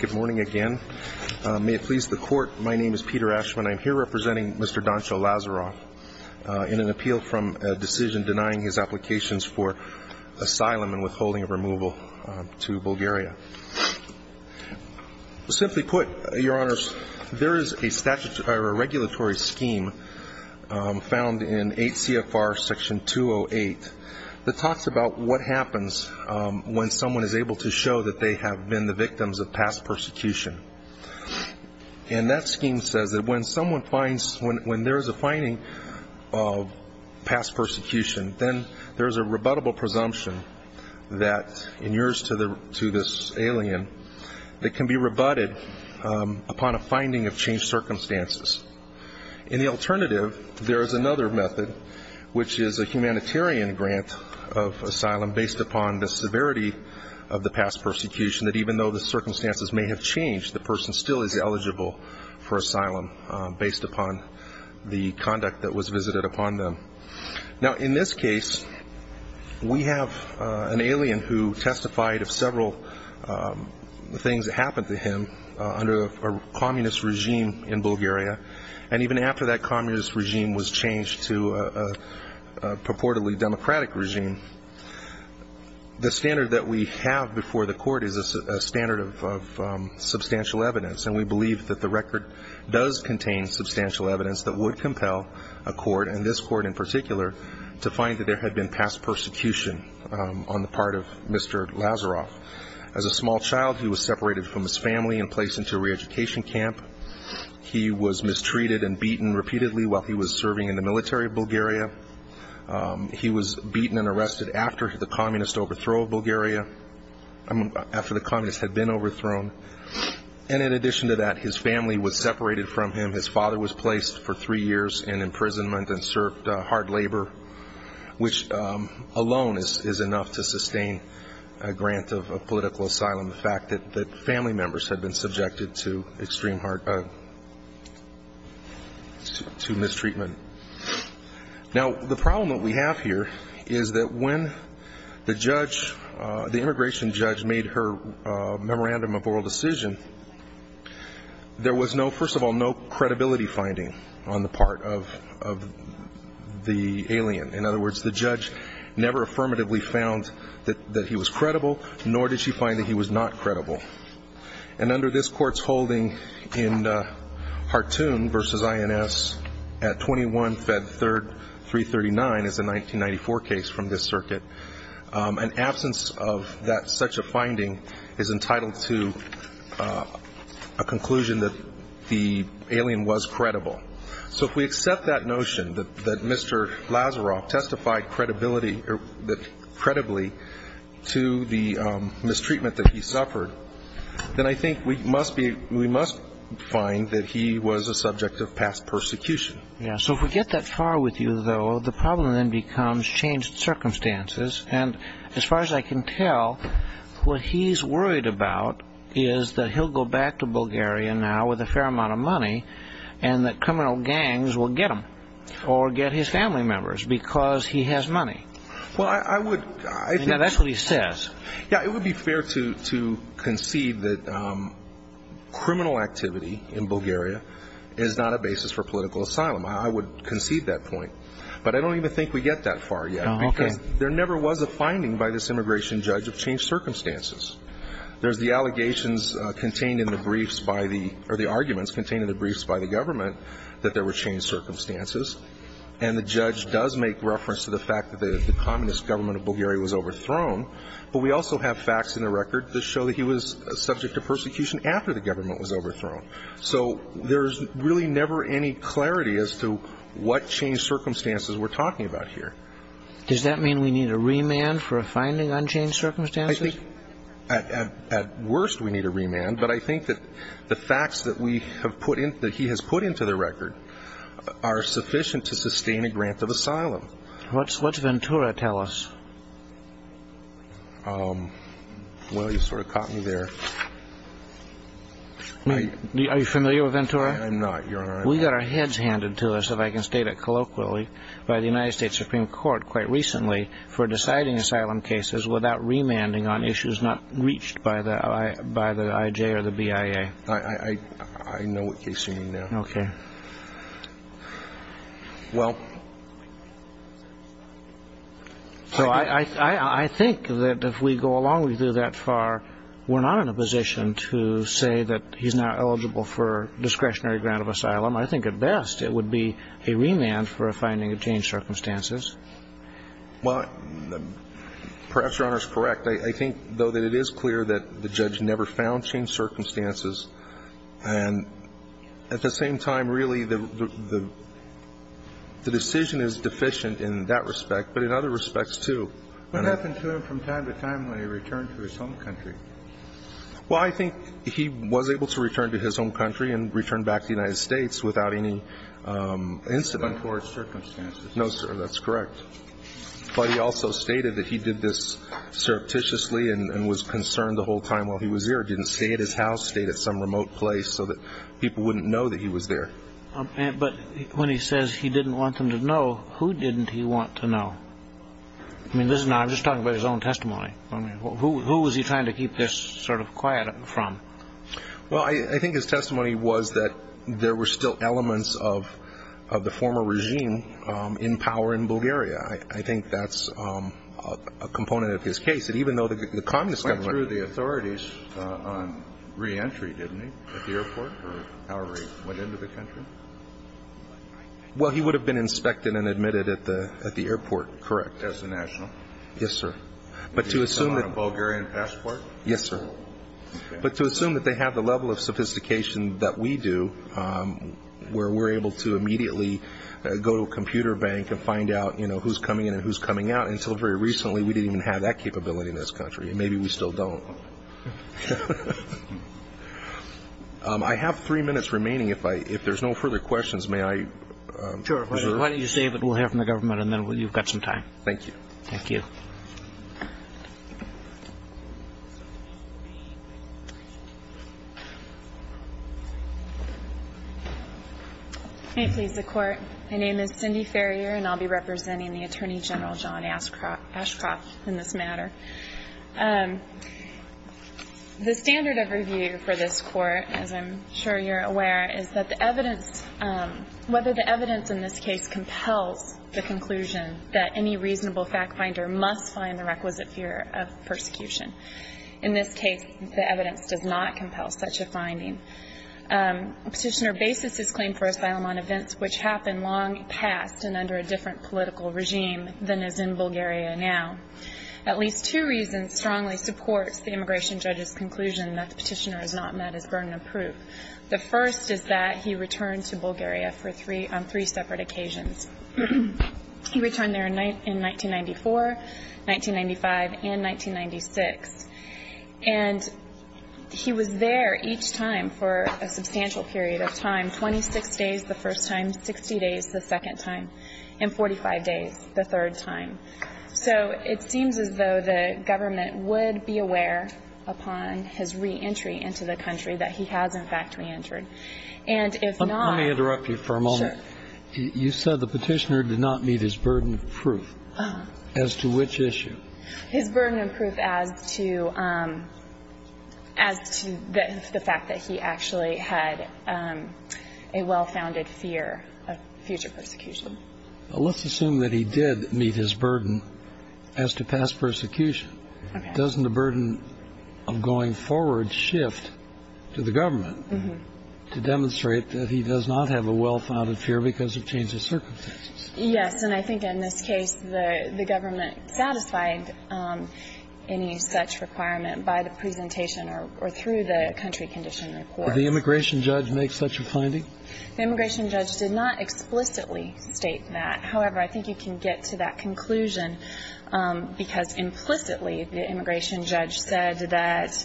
Good morning again. May it please the Court, my name is Peter Ashman. I am here representing Mr. Doncho Lazarov in an appeal from a decision denying his applications for asylum and withholding of removal to Bulgaria. Simply put, Your Honors, there is a regulatory scheme found in 8 CFR Section 208 that talks about what happens when someone is able to show that they have been the victims of past persecution. And that scheme says that when someone finds, when there is a finding of past persecution, then there is a rebuttable presumption that in yours to this alien, that can be rebutted upon a finding of changed circumstances. In the alternative, there is another method, which is a humanitarian grant of asylum based upon the severity of the past persecution, that even though the circumstances may have changed, the person still is eligible for asylum based upon the conduct that was visited upon them. Now in this case, we have an alien who testified of several things that happened to him under a communist regime in Bulgaria. And even after that communist regime was changed to a purportedly democratic regime, the standard that we have before the Court is a standard of substantial evidence. And we believe that the record does contain substantial evidence that would compel a Court, and this Court in particular, to find that there had been past persecution on the part of Mr. Lazarov. As a small child, he was separated from his family and placed into a re-education camp. He was mistreated and beaten repeatedly while he was serving in the military of Bulgaria. He was beaten and arrested after the communist overthrow of Bulgaria, after the communist had been overthrown. And in addition to that, his family was separated from him. His father was placed for three years in imprisonment and served hard labor, which alone is enough to sustain a grant of political asylum. The family members had been subjected to extreme hard – to mistreatment. Now the problem that we have here is that when the judge, the immigration judge, made her memorandum of oral decision, there was no – first of all, no credibility finding on the part of the alien. In other words, the judge never affirmatively found that he was credible, nor did she find that he was not credible. And under this Court's holding in Hartoon v. INS at 21 Fed 3339, as a 1994 case from this circuit, an absence of that such a finding is entitled to a conclusion that the alien was credible. So if we accept that notion, that Mr. Lazaroff testified credibility – credibly to the mistreatment that he suffered, then I think we must be – we must find that he was a subject of past persecution. Yeah. So if we get that far with you, though, the problem then becomes changed circumstances. And as far as I can tell, what he's worried about is that he'll go back to Bulgaria now with a fair amount of money, and that criminal gangs will get him or get his family members because he has money. Well, I would – Now that's what he says. Yeah. It would be fair to concede that criminal activity in Bulgaria is not a basis for political asylum. I would concede that point. But I don't even think we get that far yet. Oh, okay. Because there never was a finding by this immigration judge of changed circumstances. There's the allegations contained in the briefs by the – or the arguments contained in the briefs by the government that there were changed circumstances. And the judge does make reference to the fact that the communist government of Bulgaria was overthrown. But we also have facts in the record that show that he was subject to persecution after the government was overthrown. So there's really never any clarity as to what changed circumstances we're talking about here. Does that mean we need a remand for a finding on changed circumstances? I think at worst we need a remand. But I think that the facts that we have put in – that he has put into the record are sufficient to sustain a grant of asylum. What's Ventura tell us? Well, you sort of caught me there. Are you familiar with Ventura? I'm not. You're on our – We got our heads handed to us, if I can state it colloquially, by the United States Supreme Court quite recently for deciding asylum cases without remanding on issues not reached by the – by the IJ or the BIA. I know what you're saying there. Okay. Well – So I think that if we go along with you that far, we're not in a position to say that he's now eligible for discretionary grant of asylum. I think at best it would be a remand for a finding of changed circumstances. Well, perhaps Your Honor is correct. I think, though, that it is clear that the judge never found changed circumstances. And at the same time, really, the decision is deficient in that respect, but in other respects, too. What happened to him from time to time when he returned to his home country? Well, I think he was able to return to his home country and return back to the United States. But not to untoward circumstances. No, sir. That's correct. But he also stated that he did this surreptitiously and was concerned the whole time while he was here. Didn't stay at his house, stayed at some remote place so that people wouldn't know that he was there. But when he says he didn't want them to know, who didn't he want to know? I mean, this is not – I'm just talking about his own testimony. I mean, who was he trying to keep this sort of quiet from? Well, I think his testimony was that there were still elements of the former regime in power in Bulgaria. I think that's a component of his case, that even though the Communist government – Went through the authorities on reentry, didn't he? At the airport or however he went into the country? Well, he would have been inspected and admitted at the airport, correct. As a national? Yes, sir. But to assume – On a Bulgarian passport? Yes, sir. But to assume that they have the level of sophistication that we do, where we're able to immediately go to a computer bank and find out, you know, who's coming in and who's coming out. Until very recently, we didn't even have that capability in this country. Maybe we still don't. I have three minutes remaining. If there's no further questions, may I – Sure. Why don't you say what we'll have from the government and then you've got some time. Thank you. Thank you. May it please the Court, my name is Cindy Ferrier and I'll be representing the Attorney General, John Ashcroft, in this matter. The standard of review for this Court, as I'm sure you're aware, is that the evidence – whether the evidence in this case compels the conclusion that any reasonable fact finder must find the requisite fear of persecution. The evidence does not compel such a finding. Petitioner bases his claim for asylum on events which happened long past and under a different political regime than is in Bulgaria now. At least two reasons strongly support the immigration judge's conclusion that the petitioner is not met as burden of proof. The first is that he returned to Bulgaria on three separate occasions. He returned there in 1994, 1995, and 1996. And he was there each time for a substantial period of time. 26 days the first time, 60 days the second time, and 45 days the third time. So it seems as though the government would be aware upon his reentry into the country that he has, in fact, reentered. And if not – Let me interrupt you for a moment. Sure. You said the petitioner did not meet his burden of proof. As to which issue? His burden of proof as to – as to the fact that he actually had a well-founded fear of future persecution. Let's assume that he did meet his burden as to past persecution. Doesn't the burden of going forward shift to the government to demonstrate that he does not have a well-founded fear because of changes in circumstances? Yes. And I think in this case the government satisfied any such requirement by the presentation or through the country condition report. Did the immigration judge make such a finding? The immigration judge did not explicitly state that. However, I think you can get to that conclusion because implicitly the immigration judge said that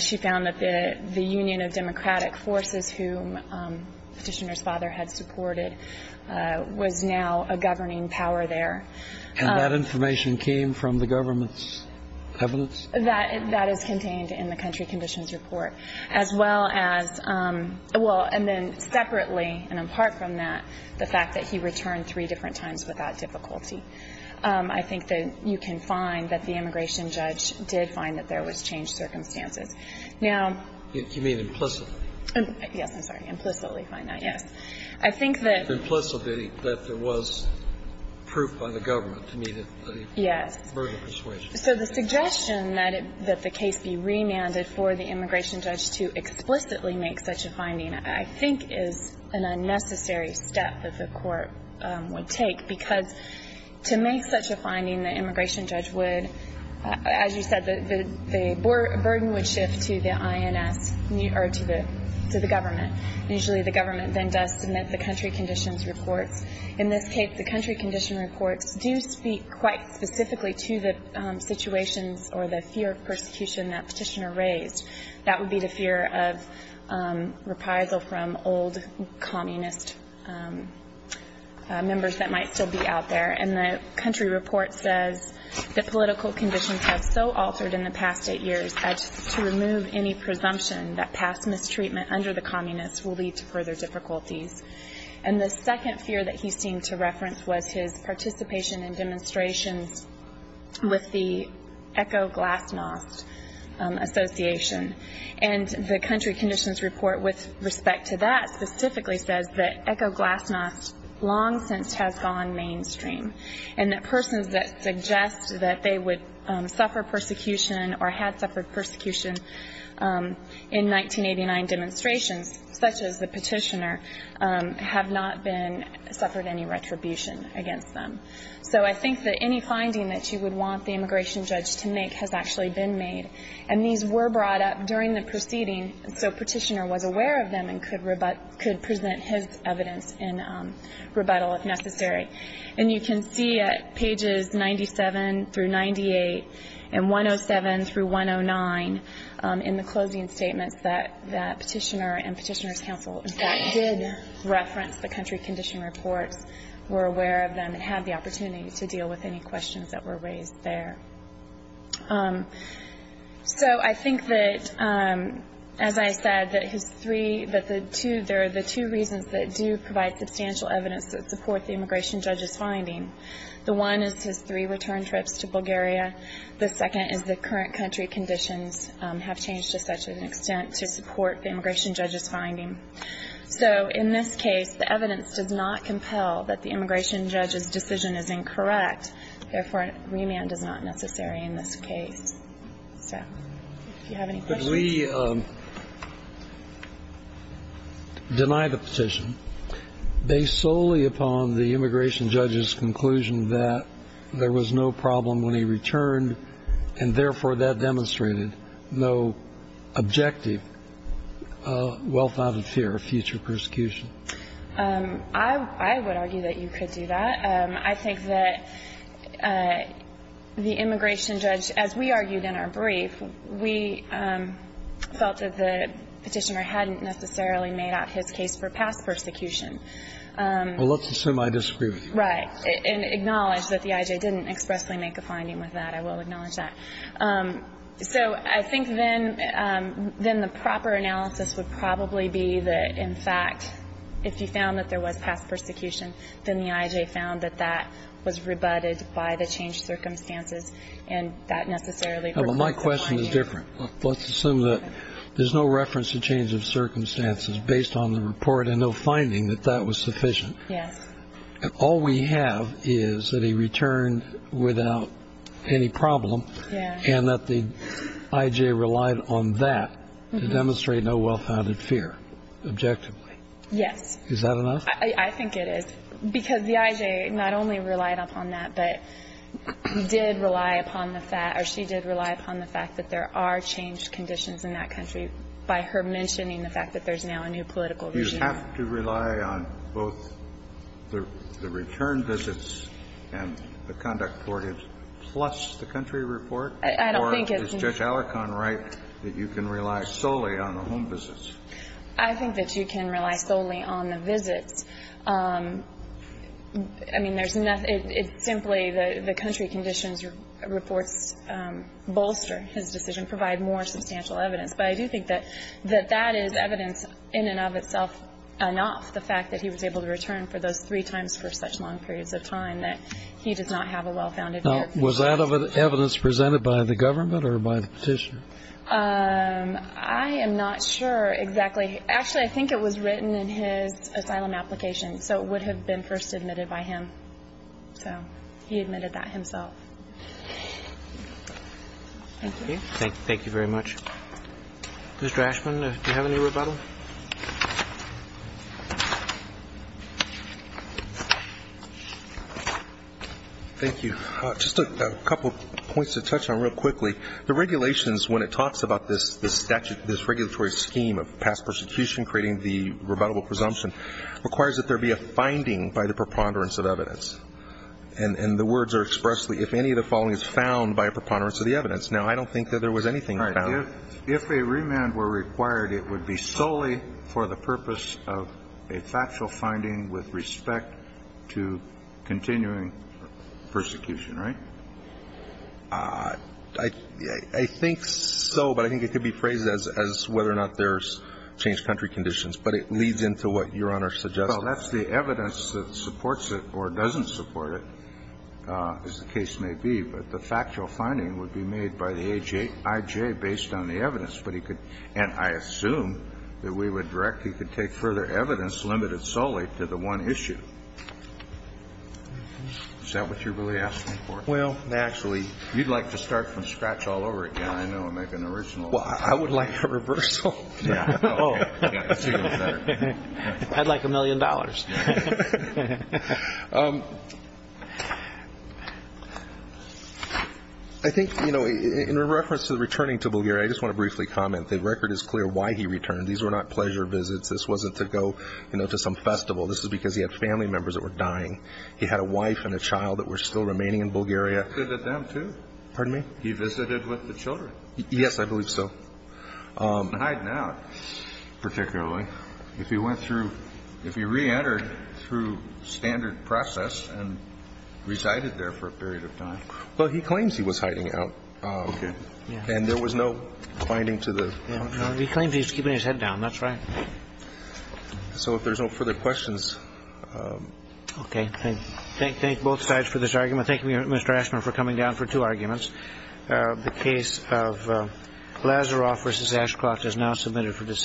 she found that the union of democratic forces whom the petitioner's father had supported was now a governing power there. And that information came from the government's evidence? That is contained in the country conditions report. As well as – well, and then separately and apart from that, the fact that he returned three different times without difficulty. I think that you can find that the immigration judge did find that there was changed circumstances. Now – You mean implicitly? Yes. I'm sorry. Implicitly find that. Yes. I think that – Implicitly that there was proof by the government to me that he – Yes. Burden of persuasion. So the suggestion that the case be remanded for the immigration judge to explicitly make such a finding I think is an unnecessary step that the court would take because to make such a finding the immigration judge would, as you said, the burden would shift to the INS or to the government. Usually the government then does submit the country conditions reports. In this case, the country condition reports do speak quite specifically to the situations or the fear of persecution that petitioner raised. That would be the fear of reprisal from old communist members that might still be out there. And the country report says the political conditions have so altered in the past eight years to remove any presumption that past mistreatment under the communists will lead to further difficulties. And the second fear that he seemed to reference was his participation in demonstrations with the Echo Glass Mosque Association. And that persons that suggest that they would suffer persecution or had suffered persecution in 1989 demonstrations, such as the petitioner, have not been – suffered any retribution against them. So I think that any finding that you would want the immigration judge to make has actually been made. And these were brought up during the proceeding so petitioner was aware of them and could present his evidence in rebuttal if necessary. And you can see at pages 97 through 98 and 107 through 109 in the closing statements that petitioner and petitioner's counsel in fact did reference the country condition reports, were aware of them, and had the opportunity to deal with any questions that were raised there. So I think that, as I said, that his three – that the two – there are the two reasons that do provide substantial evidence that support the immigration judge's finding. The one is his three return trips to Bulgaria. The second is the current country conditions have changed to such an extent to support the immigration judge's finding. So in this case, the evidence does not compel that the immigration judge's decision is incorrect. Therefore, remand is not necessary in this case. So if you have any questions. But we deny the petition based solely upon the immigration judge's conclusion that there was no problem when he returned and, therefore, that demonstrated no objective well-founded fear of future persecution. I would argue that you could do that. I think that the immigration judge, as we argued in our brief, we felt that the petitioner hadn't necessarily made out his case for past persecution. Well, let's assume I disagree with you. Right. And acknowledge that the I.J. didn't expressly make a finding with that. I will acknowledge that. So I think then the proper analysis would probably be that, in fact, if he found that there was past persecution, then the I.J. found that that was rebutted by the changed circumstances and that necessarily reflects the finding. Well, my question is different. Let's assume that there's no reference to change of circumstances based on the report and no finding that that was sufficient. Yes. All we have is that he returned without any problem and that the I.J. relied on that to demonstrate no well-founded fear objectively. Yes. Is that enough? I think it is, because the I.J. not only relied upon that, but did rely upon the fact or she did rely upon the fact that there are changed conditions in that country by her mentioning the fact that there's now a new political regime. You have to rely on both the return visits and the conduct courted plus the country report? I don't think it's. Does Judge Alarcon write that you can rely solely on the home visits? I think that you can rely solely on the visits. I mean, there's enough. It's simply the country conditions reports bolster his decision, provide more substantial evidence. But I do think that that is evidence in and of itself enough, the fact that he was able to return for those three times for such long periods of time, that he does not have a well-founded fear. Now, was that evidence presented by the government or by the petitioner? I am not sure exactly. Actually, I think it was written in his asylum application, so it would have been first admitted by him. So he admitted that himself. Thank you. Thank you very much. Mr. Ashman, do you have any rebuttal? Thank you. Just a couple of points to touch on real quickly. The regulations, when it talks about this statute, this regulatory scheme of past persecution creating the rebuttable presumption, requires that there be a finding by the preponderance of evidence. And the words are expressly, if any of the following is found by a preponderance of the evidence. Now, I don't think that there was anything found. If a remand were required, it would be solely for the purpose of a factual finding with respect to continuing persecution, right? I think so, but I think it could be phrased as whether or not there's changed country conditions. But it leads into what Your Honor suggested. Well, that's the evidence that supports it or doesn't support it, as the case may be. But the factual finding would be made by the IJ based on the evidence. And I assume that we would directly could take further evidence limited solely to the one issue. Is that what you're really asking for? Well, actually, you'd like to start from scratch all over again. I know. Make an original. Well, I would like a reversal. I'd like a million dollars. I think, you know, in reference to the returning to Bulgaria, I just want to briefly comment. The record is clear why he returned. These were not pleasure visits. This wasn't to go, you know, to some festival. This was because he had family members that were dying. He had a wife and a child that were still remaining in Bulgaria. He visited with them, too. Pardon me? He visited with the children. Yes, I believe so. And hiding out, particularly. Well, if he went through, if he reentered through standard process and resided there for a period of time. Well, he claims he was hiding out. Okay. And there was no finding to the. He claims he's keeping his head down. That's right. So if there's no further questions. Okay. Thank both sides for this argument. Thank you, Mr. Ashman, for coming down for two arguments. The case of Lazaroff v. Ashcroft is now submitted for discussion.